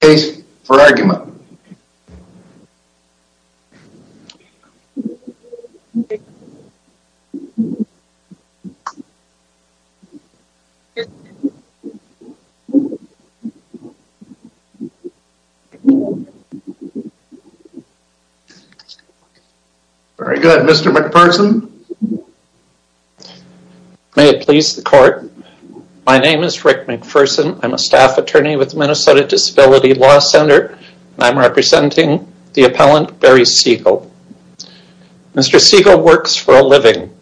case for argument. Very good. Mr. McPherson. May it please the court. My name is Rick McPherson. I'm a staff attorney with the Minnesota Disability Law Center and I'm representing the appellant Barry Segal. Mr. Segal works for a living.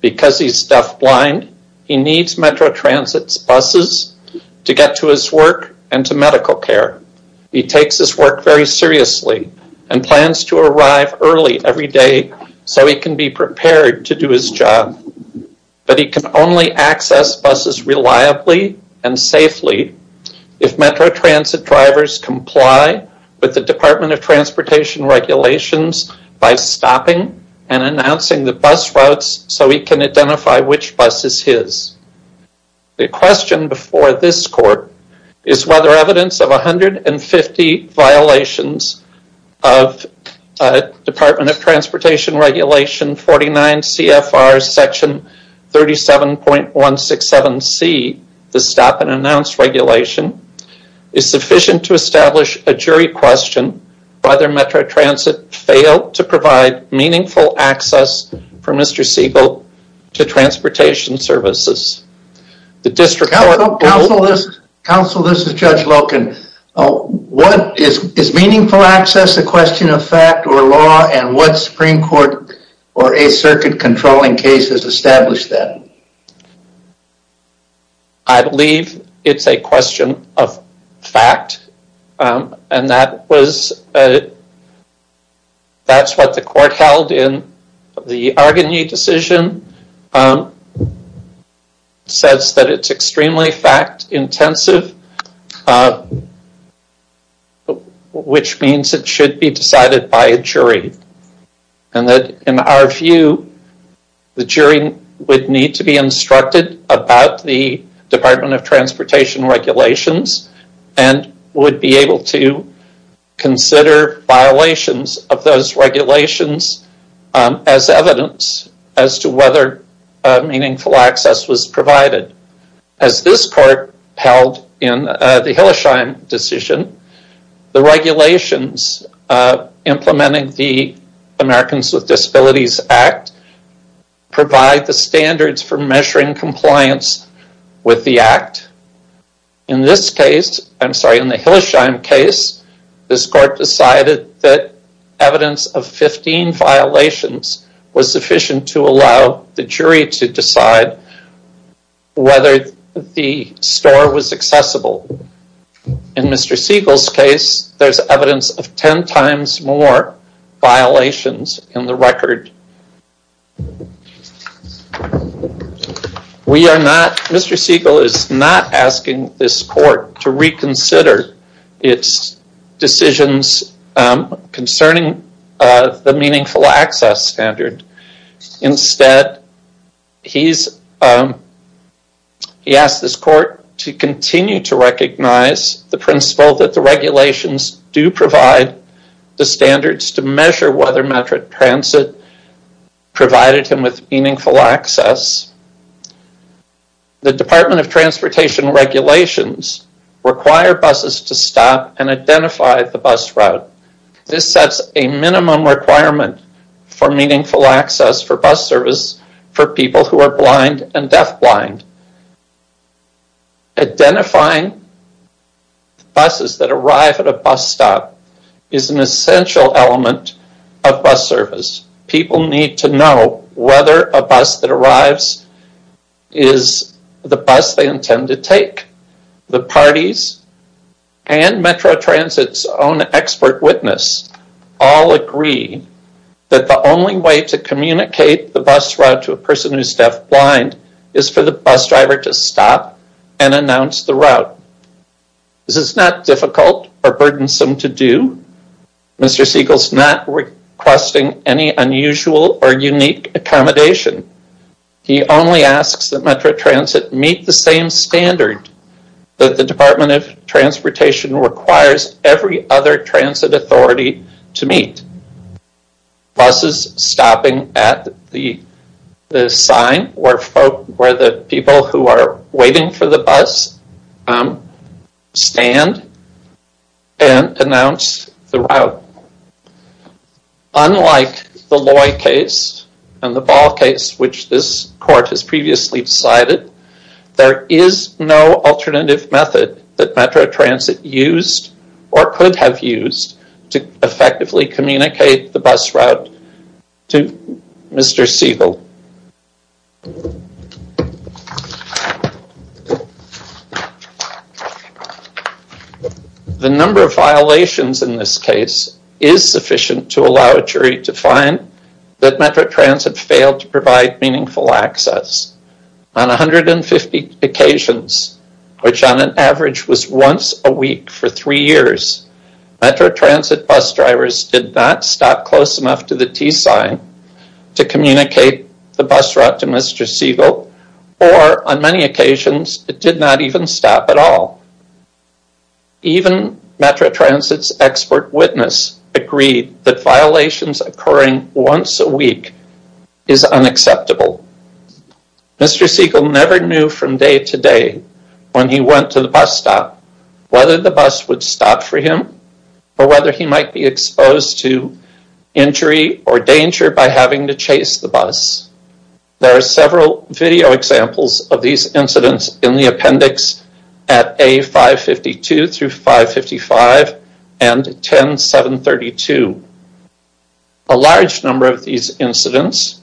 Because he's deafblind, he needs Metro Transit's buses to get to his work and to medical care. He takes his work very seriously and plans to arrive early every day so he can be prepared to do his job. But he can only access buses reliably and safely if Metro Transit drivers comply with the Department of Transportation regulations by stopping and announcing the bus routes so he can identify which bus is his. The question before this court is whether evidence of 150 violations of Department of Transportation section 37.167C, the stop and announce regulation, is sufficient to establish a jury question whether Metro Transit failed to provide meaningful access for Mr. Segal to transportation services. The district court... Counsel, this is Judge Loken. Is meaningful access a question of fact or law and what Supreme Court or a circuit controlling case has established that? I believe it's a question of fact and that was... That's what the court held in the Argini decision. Says that it's extremely fact intensive, which means it should be decided by a jury. And that in our view, the jury would need to be instructed about the Department of Transportation regulations and would be able to consider violations of those regulations as evidence as to whether meaningful access was provided. As this court held in the Hillesheim decision, the regulations implementing the Americans with Disabilities Act provide the standards for measuring compliance with the act. In this case, I'm sorry, in the Hillesheim case, this court decided that evidence of whether the store was accessible. In Mr. Segal's case, there's evidence of 10 times more violations in the record. We are not... Mr. Segal is not asking this court to reconsider its decisions concerning the meaningful access standard. Instead, he asked this court to continue to recognize the principle that the regulations do provide the standards to measure whether metric transit provided him with meaningful access. The Department of Transportation regulations require buses to stop and identify the bus route. This sets a minimum requirement for meaningful access for bus service for people who are blind and deaf-blind. Identifying buses that arrive at a bus stop is an essential element of bus service. People need to know whether a bus that arrives is the bus they intend to take. The parties and Metro Transit's own expert witness all agree that the only way to communicate the bus route to a person who's deaf-blind is for the bus driver to stop and announce the route. This is not difficult or burdensome to do. Mr. Segal's not requesting any unusual or unique accommodation. He only asks that Metro Transit meet the same standard that the Department of Transportation requires every other transit authority to meet. Buses stopping at the sign where the people who are waiting for the bus stand and announce the route. Unlike the Loy case and the Ball case, which this court has previously decided, there is no alternative method that Metro Transit used or could have used to effectively communicate the bus route to Mr. Segal. The number of violations in this case is sufficient to allow a jury to find that Metro Transit failed to provide meaningful access. On 150 occasions, which on an average was once a week for three years, Metro Transit bus drivers did not stop close enough to the T sign to communicate the bus route to Mr. Segal or on many occasions, it did not even stop at all. Even Metro Transit's expert witness agreed that violations occurring once a week is unacceptable. Mr. Segal never knew from day to day when he went to the bus stop whether the bus would stop for him or whether he might be exposed to injury or danger by having to chase the bus. There are several video examples of these incidents in the appendix at A552-555 and 10732. A large number of these incidents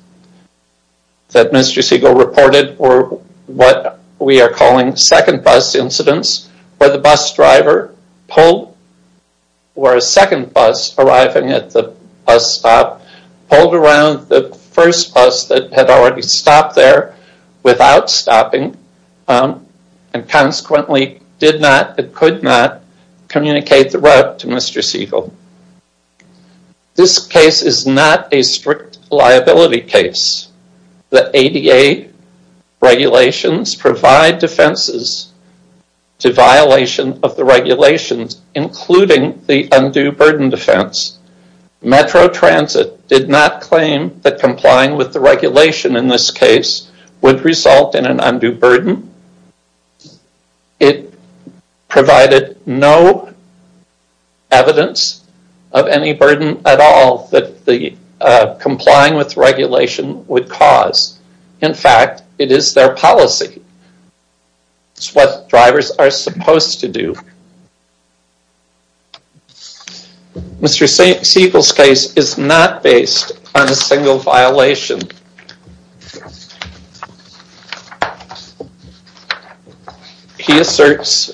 that Mr. Segal reported were what we are calling second bus incidents where the bus driver pulled or a second bus arriving at the bus stop pulled around the first bus that had already stopped there without stopping and consequently did not or could not communicate the route to Mr. Segal. This case is not a strict liability case. The ADA regulations provide defenses to violation of the regulations including the undue burden defense. Metro Transit did not claim that complying with the regulation in this case would result in an undue burden. It provided no evidence of any burden at all that the complying with regulation would cause. In fact, it is their policy. It's what drivers are supposed to do. Mr. Segal's case is not based on a single violation. He asserts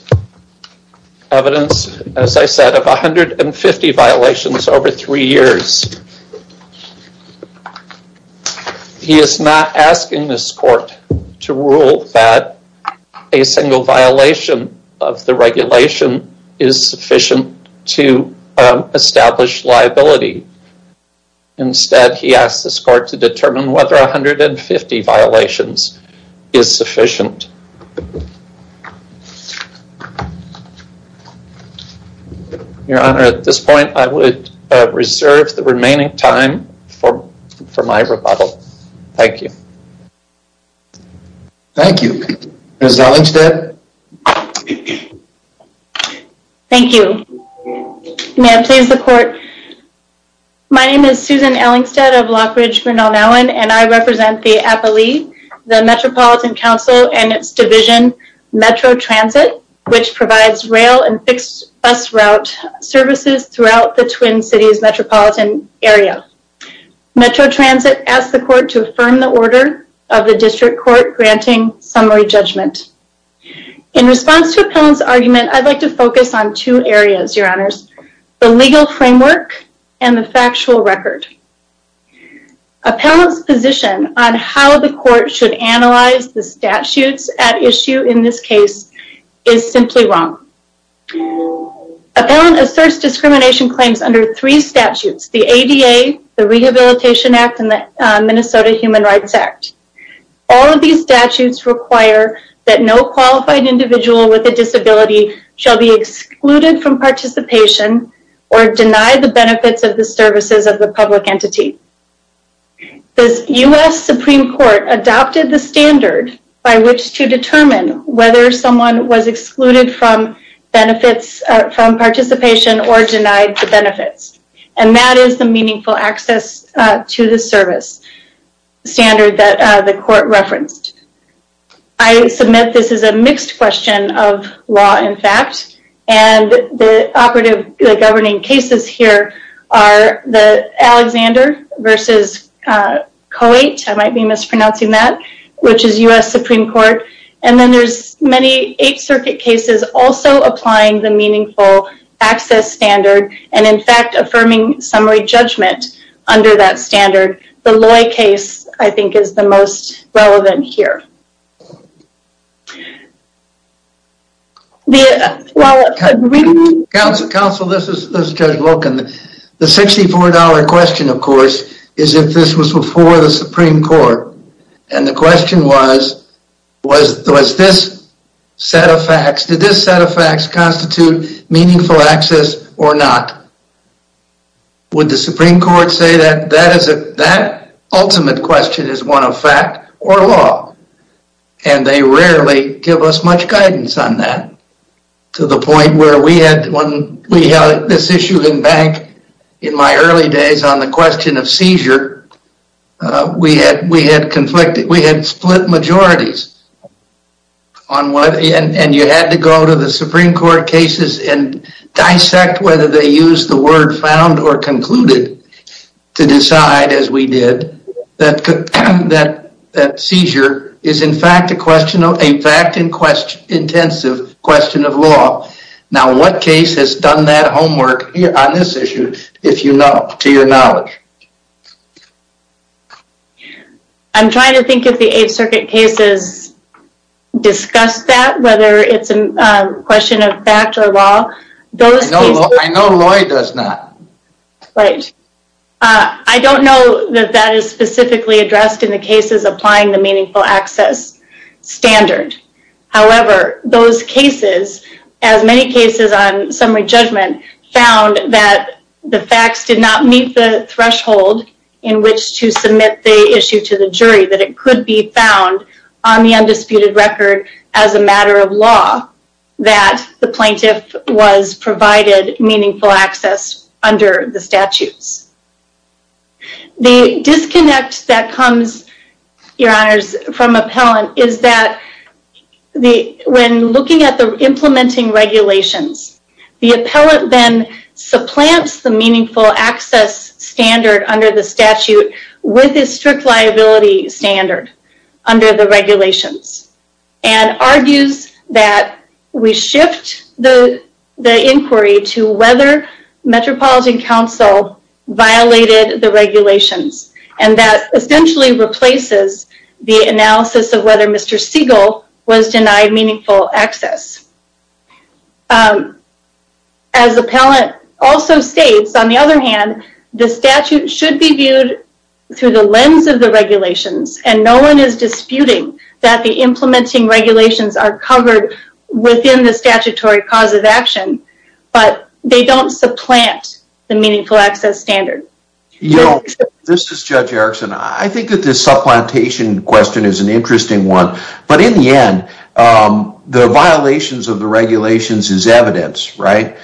evidence, as I said, of 150 violations over three years. He is not asking this court to rule that a single violation of the regulation is sufficient to establish liability. Instead, he asks this court to determine whether 150 violations is sufficient. Your Honor, at this point, I would reserve the remaining time for my rebuttal. Thank you. Thank you. Ms. Ellingstead? Thank you. May I please the court? My name is Susan Ellingstead of Lockridge, Grinnell-Mellon, and I represent the APALE, the Metropolitan Council, and its division, Metro Transit, which provides rail and fixed bus route services throughout the Twin Cities metropolitan area. Metro Transit asked the court to affirm the order of the district court granting summary judgment. In response to Appellant's argument, I'd like to focus on two areas, Your Honors, the legal framework and the factual record. Appellant's position on how the court should analyze the statutes at issue in this case is simply wrong. Appellant asserts discrimination claims under three statutes, the ADA, the Rehabilitation Act, and the Minnesota Human Rights Act. All of these statutes require that no qualified individual with a disability shall be excluded from participation or deny the benefits of the services of the public entity. The U.S. Supreme Court adopted the standard by which to determine whether someone was excluded from benefits from participation or denied the benefits, and that is the meaningful access to the service standard that the court referenced. I submit this is a mixed question of law, in fact, and the operative governing cases here are the Alexander v. Coate, I might be mispronouncing that, which is U.S. Supreme Court, and then there's many Eighth Circuit cases also applying the meaningful access standard and, in fact, affirming summary judgment under that standard. The Loy case, I think, is the most relevant here. Counsel, this is Judge Loken. The $64 question, of course, is if this was before the Supreme Court, and the question was, was this set of facts, did this set of facts constitute meaningful access or not? Would the Supreme Court say that that ultimate question is one of fact or law? And they rarely give us much guidance on that, to the point where we had, when we had this issue in my early days on the question of seizure, we had split majorities, and you had to go to the Supreme Court cases and dissect whether they used the word found or concluded to decide, as we did, that seizure is, in fact, a fact-intensive question of law. Now, what case has done that homework on this issue, to your knowledge? I'm trying to think if the Eighth Circuit cases discussed that, whether it's a question of fact or law. I know Loy does not. Right. I don't know that that is specifically addressed in the cases applying the meaningful access standard. However, those cases, as many cases on summary judgment, found that the facts did not meet the threshold in which to submit the issue to the jury, that it could be found on the undisputed record as a matter of law, that the plaintiff was provided meaningful access under the statutes. The disconnect that comes, your honors, from appellant is that when looking at the implementing regulations, the appellant then supplants the meaningful access standard under the statute with a strict liability standard under the regulations, and argues that we shift the violated the regulations, and that essentially replaces the analysis of whether Mr. Siegel was denied meaningful access. As appellant also states, on the other hand, the statute should be viewed through the lens of the regulations, and no one is disputing that the implementing regulations are covered within the statutory cause of action, but they don't supplant the meaningful access standard. This is Judge Erickson. I think that this supplantation question is an interesting one, but in the end, the violations of the regulations is evidence, right?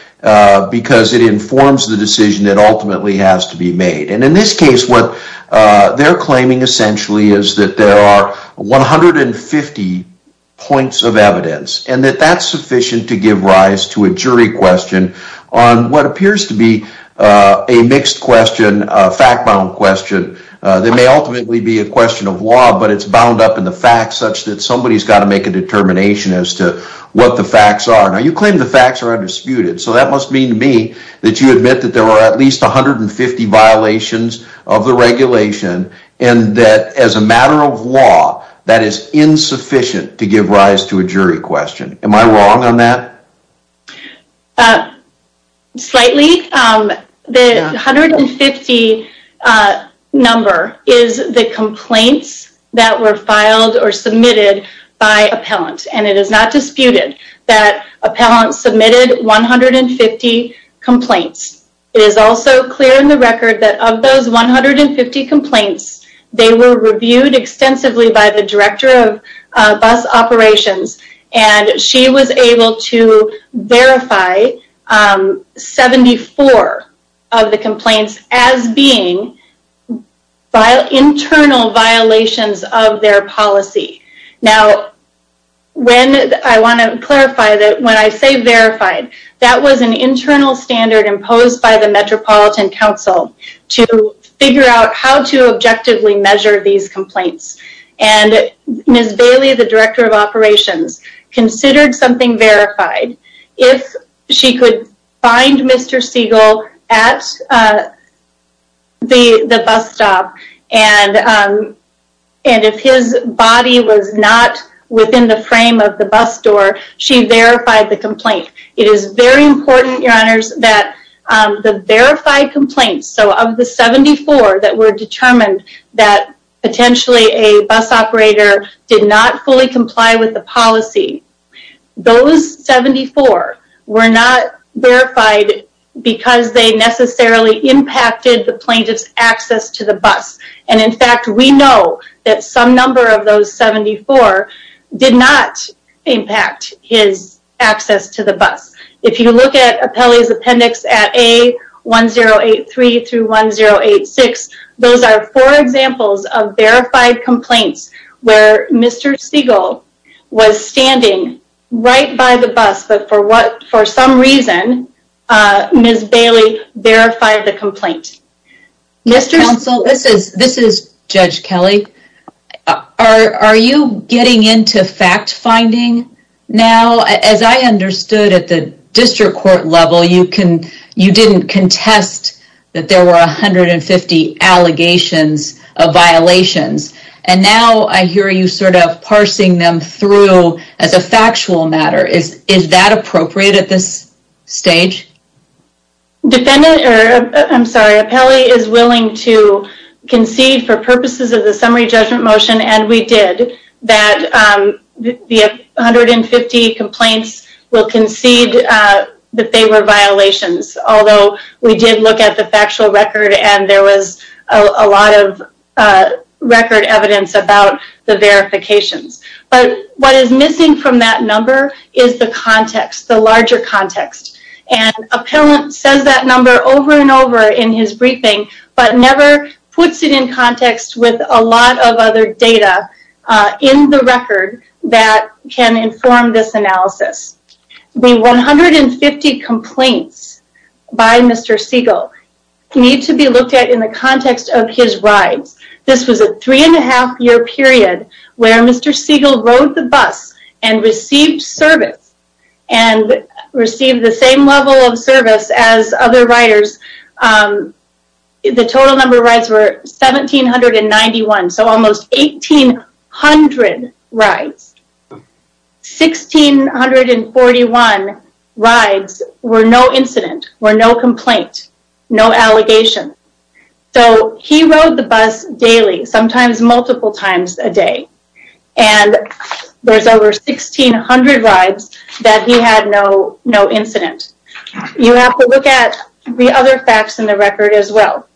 Because it informs the decision that ultimately has to be made. In this case, what they're claiming essentially is that there are 150 points of evidence, and that that's sufficient to give rise to a jury question on what appears to be a mixed question, a fact-bound question, that may ultimately be a question of law, but it's bound up in the facts such that somebody's got to make a determination as to what the facts are. Now, you claim the facts are undisputed, so that must mean to me that you admit that there are at least 150 violations of the regulation, and that as a matter of law, that is insufficient to give rise to a jury question. Am I wrong on that? Slightly. The 150 number is the complaints that were filed or submitted by appellant, and it is not disputed that appellant submitted 150 complaints. It is also clear in the record that of those 150 complaints, they were reviewed extensively by the director of bus operations, and she was able to verify 74 of the complaints as being internal violations of their policy. Now, I want to clarify that when I say verified, that was an internal standard imposed by the Metropolitan Council to figure out how to objectively measure these complaints, and Ms. Bailey, the director of operations, considered something verified. If she could find Mr. Siegel at the bus stop, and if his body was not within the frame of the bus door, she verified the complaint. It is very important, Your Honors, that the verified complaints, so of the 74 that were determined that potentially a bus operator did not fully comply with the policy, those 74 were not verified because they necessarily impacted the plaintiff's access to the bus. In fact, we know that some number of those 74 did not impact his access to the bus. If you look at Appellee's Appendix at A1083-1086, those are four examples of verified complaints where Mr. Siegel was standing right by the bus, but for some reason, Ms. Bailey verified the complaint. Counsel, this is Judge Kelly. Are you getting into fact-finding now? As I understood at the district court level, you didn't contest that there were 150 allegations of violations, and now I hear you sort of parsing them through as a factual matter. Is that appropriate at this stage? I'm sorry, Appellee is willing to concede for purposes of the summary judgment motion, and we did, that the 150 complaints will concede that they were violations. Although we did look at the factual record and there was a lot of record evidence about the verifications. But what is missing from that number is the context, the larger context. And Appellant says that number over and over in his briefing, but never puts it in context with a lot of other data in the record that can inform this analysis. The 150 complaints by Mr. Siegel need to be looked at in the context of his rides. This was a three and a half year period where Mr. Siegel rode the bus and received service and received the same level of service as other riders. The total number of rides were 1,791, so almost 1,800 rides. 1,641 rides were no incident, were no complaint, no allegation. So he rode the bus daily, sometimes multiple times a day. And there's over 1,600 rides that he had no incident. You have to look at the other facts in the record as well.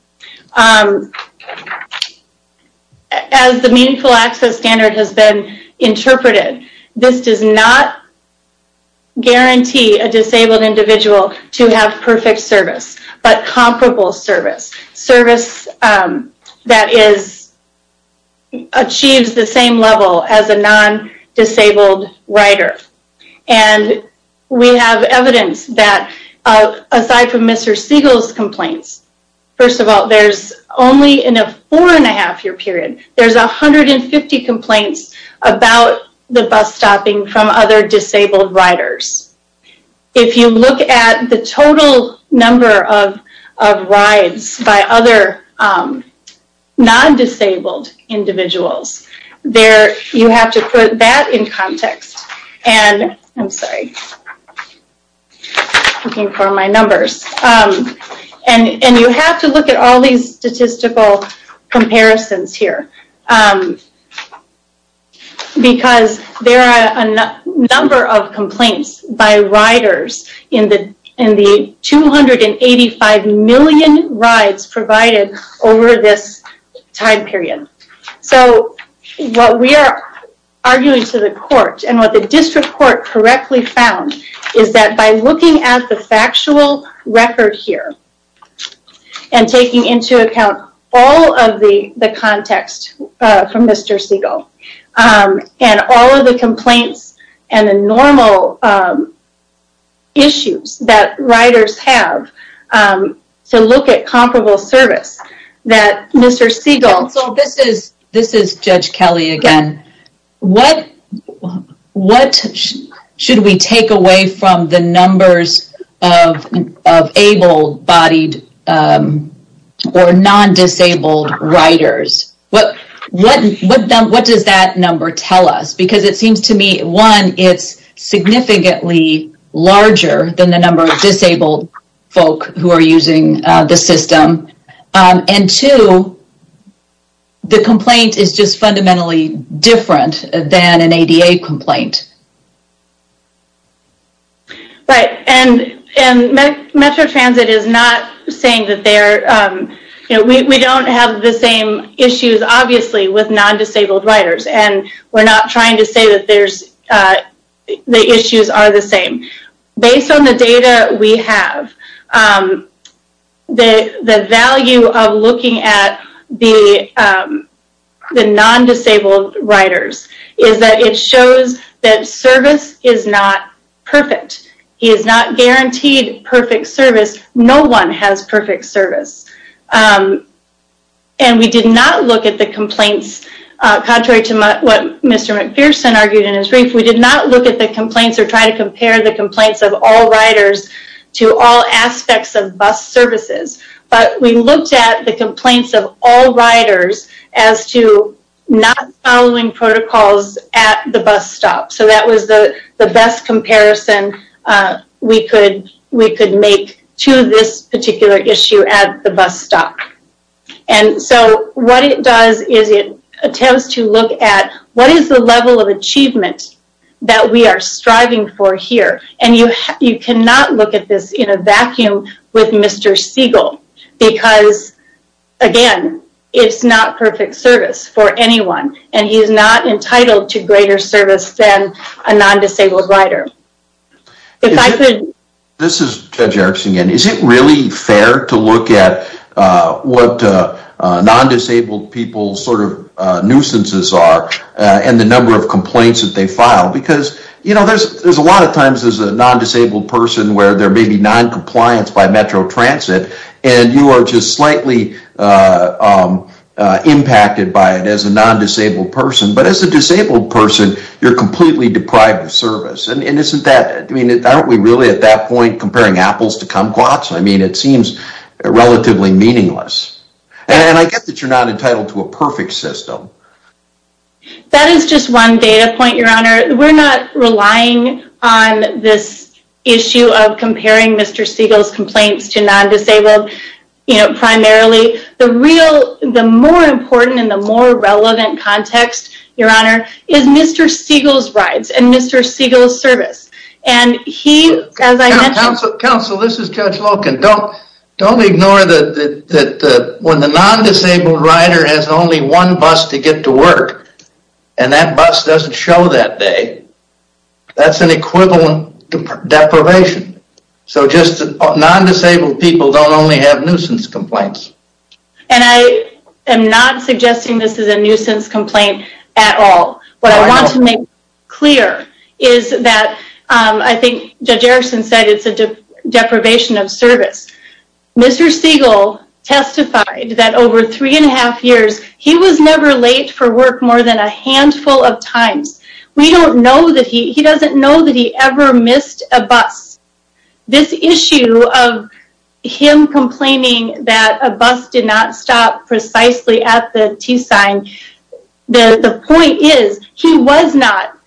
As the Meaningful Access Standard has been interpreted, this does not guarantee a disabled individual to have perfect service, but comparable service. Service that achieves the same level as a non-disabled rider. And we have evidence that aside from Mr. Siegel's complaints, first of all, there's only in a four and a half year period, there's 150 complaints about the bus stopping from other disabled riders. If you look at the total number of rides by other non-disabled individuals, you have to put that in context. I'm sorry. Looking for my numbers. And you have to look at all these statistical comparisons here. Because there are a number of complaints by riders in the 285 million rides provided over this time period. So what we are arguing to the court, and what the district court correctly found, is that by looking at the factual record here, and taking into account all of the context from Mr. Siegel, and all of the complaints and the normal issues that riders have to look at comparable service, that Mr. Siegel... So this is Judge Kelly again. What should we take away from the numbers of able-bodied or non-disabled riders? What does that number tell us? Because it seems to me, one, it's significantly larger than the number of disabled folk who are using the system. And two, the complaint is just fundamentally different than an ADA complaint. Right. And Metro Transit is not saying that they're... We don't have the same issues, obviously, with non-disabled riders. And we're not trying to say that the issues are the same. Based on the data we have, the value of looking at the non-disabled riders is that it shows that service is not perfect. It is not guaranteed perfect service. No one has perfect service. And we did not look at the complaints contrary to what Mr. McPherson argued in his brief. We did not look at the complaints or try to compare the complaints of all riders to all aspects of bus services. But we looked at the complaints of all riders as to not following protocols at the bus stop. So that was the best comparison we could make to this particular issue at the bus stop. And so what it does is it attempts to look at what is the level of achievement that we are striving for here. And you cannot look at this in a vacuum with Mr. Siegel. Because, again, it's not perfect service for anyone. And he's not entitled to greater service than a non-disabled rider. This is Judge Erickson again. Is it really fair to look at what non-disabled people's nuisances are and the number of complaints that they file? Because, you know, there's a lot of times as a non-disabled person where there may be non-compliance by Metro Transit. And you are just slightly impacted by it as a non-disabled person. But as a disabled person, you're completely deprived of service. And aren't we really at that point comparing apples to kumquats? I mean, it seems relatively meaningless. And I get that you're not entitled to a perfect system. That is just one data point, Your Honor. We're not relying on this issue of comparing Mr. Siegel's complaints to non-disabled primarily. The more important and the more relevant context, Your Honor, is Mr. Siegel's rides. And Mr. Siegel's service. And he, as I mentioned... Counsel, this is Judge Loken. Don't ignore that when the non-disabled rider has only one bus to get to work and that bus doesn't show that day, that's an equivalent deprivation. So just non-disabled people don't only have nuisance complaints. And I am not suggesting this is a nuisance complaint at all. What I want to make clear is that I think Judge Erickson said it's a deprivation of service. Mr. Siegel testified that over three and a half years, he was never late for work more than a handful of times. We don't know that he... he doesn't know that he ever missed a bus. This issue of him complaining that a bus did not stop precisely at the T sign, the point is he was not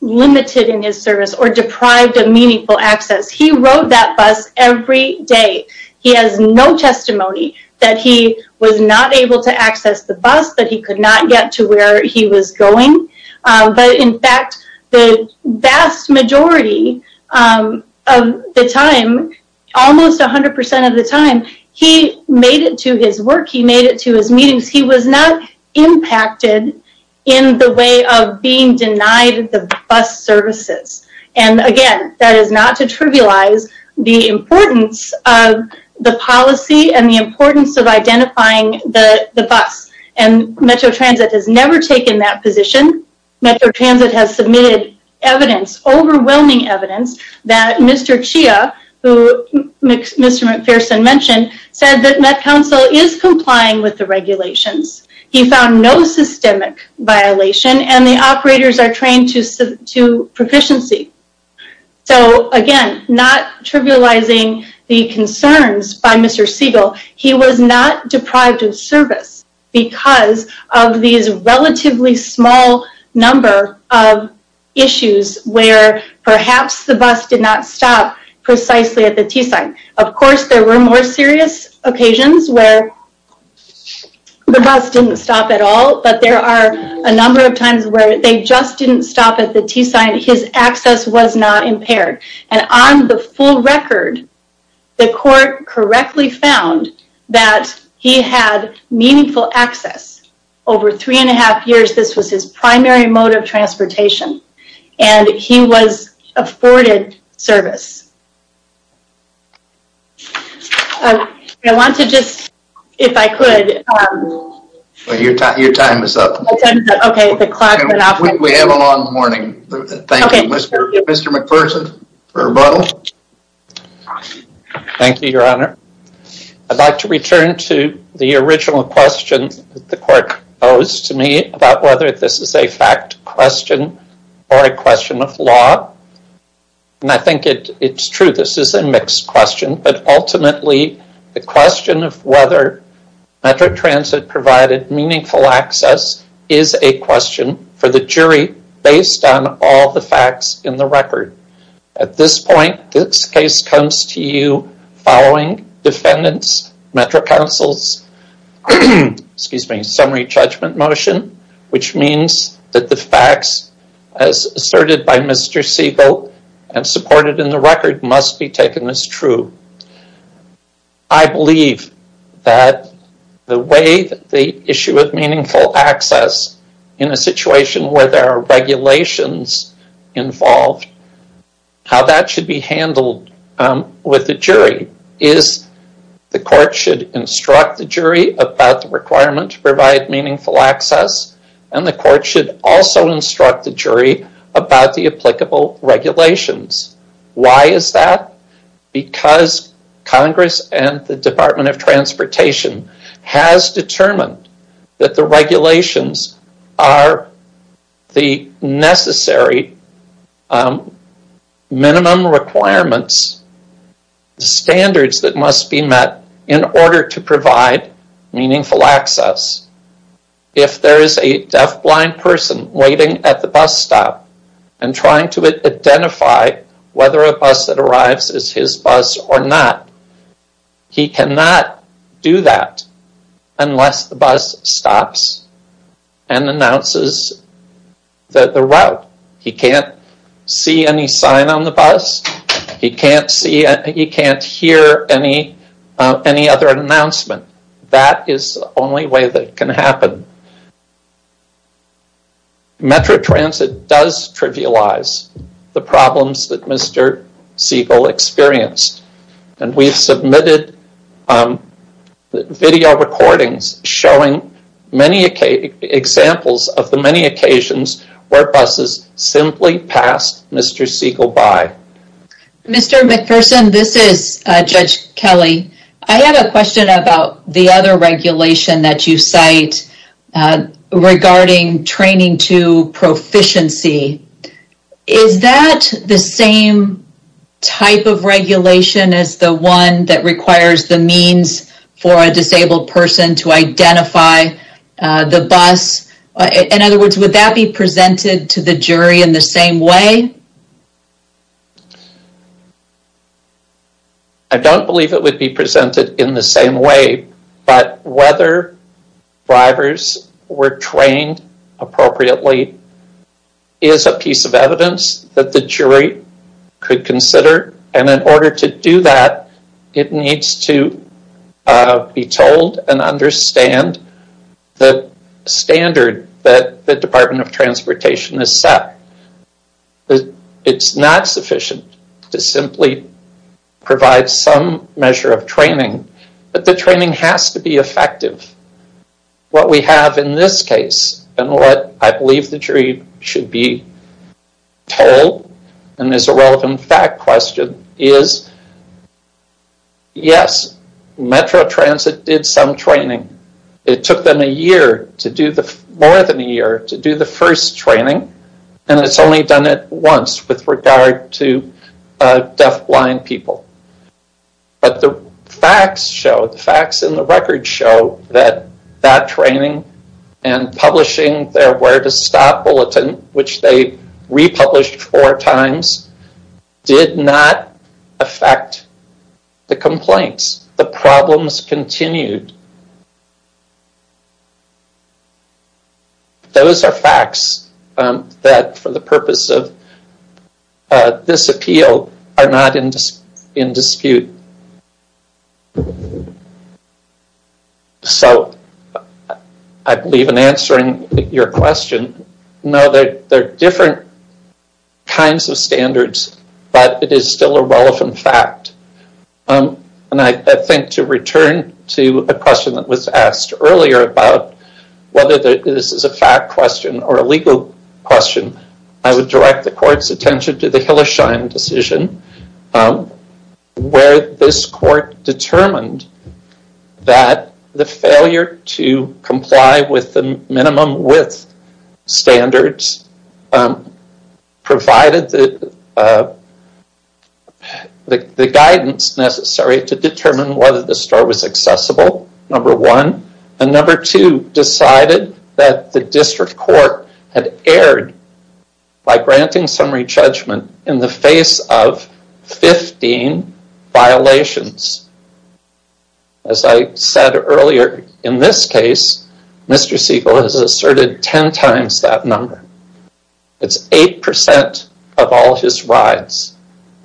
limited in his service or deprived of meaningful access. He rode that bus every day. He has no testimony that he was not able to access the bus, that he could not get to where he was going. But in fact, the vast majority of the time, almost 100% of the time, he made it to his work. He made it to his meetings. He was not impacted in the way of being denied the bus services. And again, that is not to trivialize the importance of the policy and the importance of identifying the bus. And Metro Transit has never taken that position. Metro Transit has submitted evidence, overwhelming evidence, that Mr. Chia, who Mr. McPherson mentioned, said that Met Council is complying with the regulations. He found no systemic violation and the operators are trained to proficiency. So again, not trivializing the concerns by Mr. Siegel, he was not deprived of service because of these relatively small number of issues where perhaps the bus did not stop precisely at the T-Sign. Of course, there were more serious occasions where the bus didn't stop at all, but there are a number of times where they just didn't stop at the T-Sign. His access was not impaired. And on the full record, the court correctly found that he had meaningful access. Over three and a half years, this was his primary mode of transportation. And he was afforded service. I want to just, if I could... Your time is up. Okay, the clock went off. We have a long morning. Thank you, Mr. McPherson for a rebuttal. Thank you, Your Honor. I'd like to return to the original question that the court posed to me about whether this is a fact question or a question of law. And I think it's true this is a mixed question, but ultimately the question of whether Metro Transit provided meaningful access is a question for the jury based on all the facts in the record. At this point, this case comes to you following Defendant's Metro Council's summary judgment motion, which means that the facts as asserted by Mr. Siegel and supported in the record must be taken as true. I believe that the way the issue of meaningful access in a situation where there are regulations involved, how that should be handled with the jury is the court should instruct the jury about the requirement to provide meaningful access, and the court should also instruct the jury about the applicable regulations. Why is that? Because Congress and the Department of Transportation has determined that the regulations are the necessary minimum requirements, standards that must be met in order to provide meaningful access. If there is a deafblind person waiting at the bus stop and trying to identify whether a bus that arrives is his bus or not, he cannot do that unless the bus stops and announces the route. He can't see any sign on the bus. He can't hear any other announcement. That is the only way that can happen. Metro Transit does trivialize the problems that Mr. Siegel experienced, and we've submitted video recordings showing examples of the many occasions where buses simply passed Mr. Siegel by. Mr. McPherson, this is Judge Kelly. I have a question about the other regulation that you cite regarding training to proficiency. Is that the same type of regulation as the one that requires the means for a disabled person to identify the bus? In other words, would that be presented to the jury in the same way? I don't believe it would be presented in the same way, but whether drivers were trained appropriately is a piece of evidence that the jury could consider, and in order to do that, it needs to be told and understand the standard that the Department of Transportation has set. It's not sufficient to simply provide some measure of training, but the training has to be effective. What we have in this case, and what I believe the jury should be told, and is a relevant fact question, is yes, Metro Transit did some training. It took them more than a year to do the first training, and it's only done it once with regard to deafblind people. But the facts show, the facts in the record show, that that training and publishing their where to stop bulletin, which they republished four times, did not affect the complaints. The problems continued. Those are facts that, for the purpose of this appeal, are not in dispute. So, I believe in answering your question, no, there are different kinds of standards, but it is still a relevant fact. I think to return to a question that was asked earlier about whether this is a fact question or a legal question, I would direct the court's attention to the Hillersheim decision, where this court determined that the failure to comply with the minimum width standards provided the guidance necessary to determine whether the store was accessible, number one, and number two, decided that the district court had erred by granting summary judgment in the face of 15 violations. As I said earlier, in this case, Mr. Siegel has asserted 10 times that number. It's 8% of all his rides.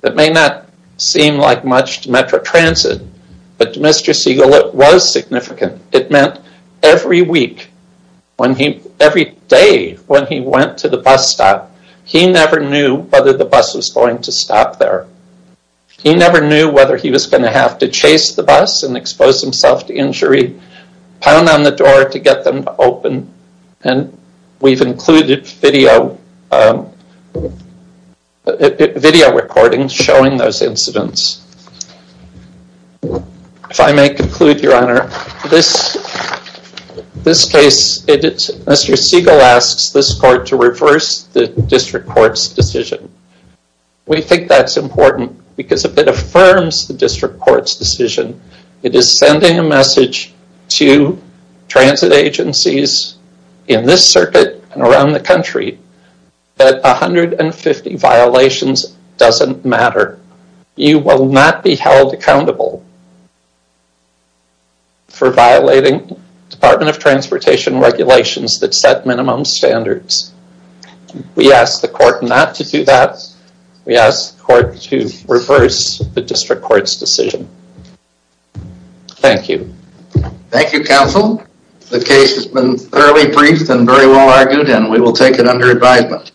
It may not seem like much to Metro Transit, but to Mr. Siegel it was significant. It meant every week, every day when he went to the bus stop, he never knew whether the bus was going to stop there. He never knew whether he was going to have to chase the bus and expose himself to injury, pound on the door to get them to open, and we've included video recordings showing those incidents. If I may conclude, Your Honor, this case, Mr. Siegel asks this court to reverse the district court's decision. We think that's important, because if it affirms the district court's decision, it is sending a message to transit agencies in this circuit and around the country that 150 violations doesn't matter. You will not be held accountable for violating Department of Transportation regulations that set minimum standards. We ask the court not to do that. We ask the court to reverse the district court's decision. Thank you. Thank you, counsel. The case has been fairly brief and very well argued, and we will take it under advisement.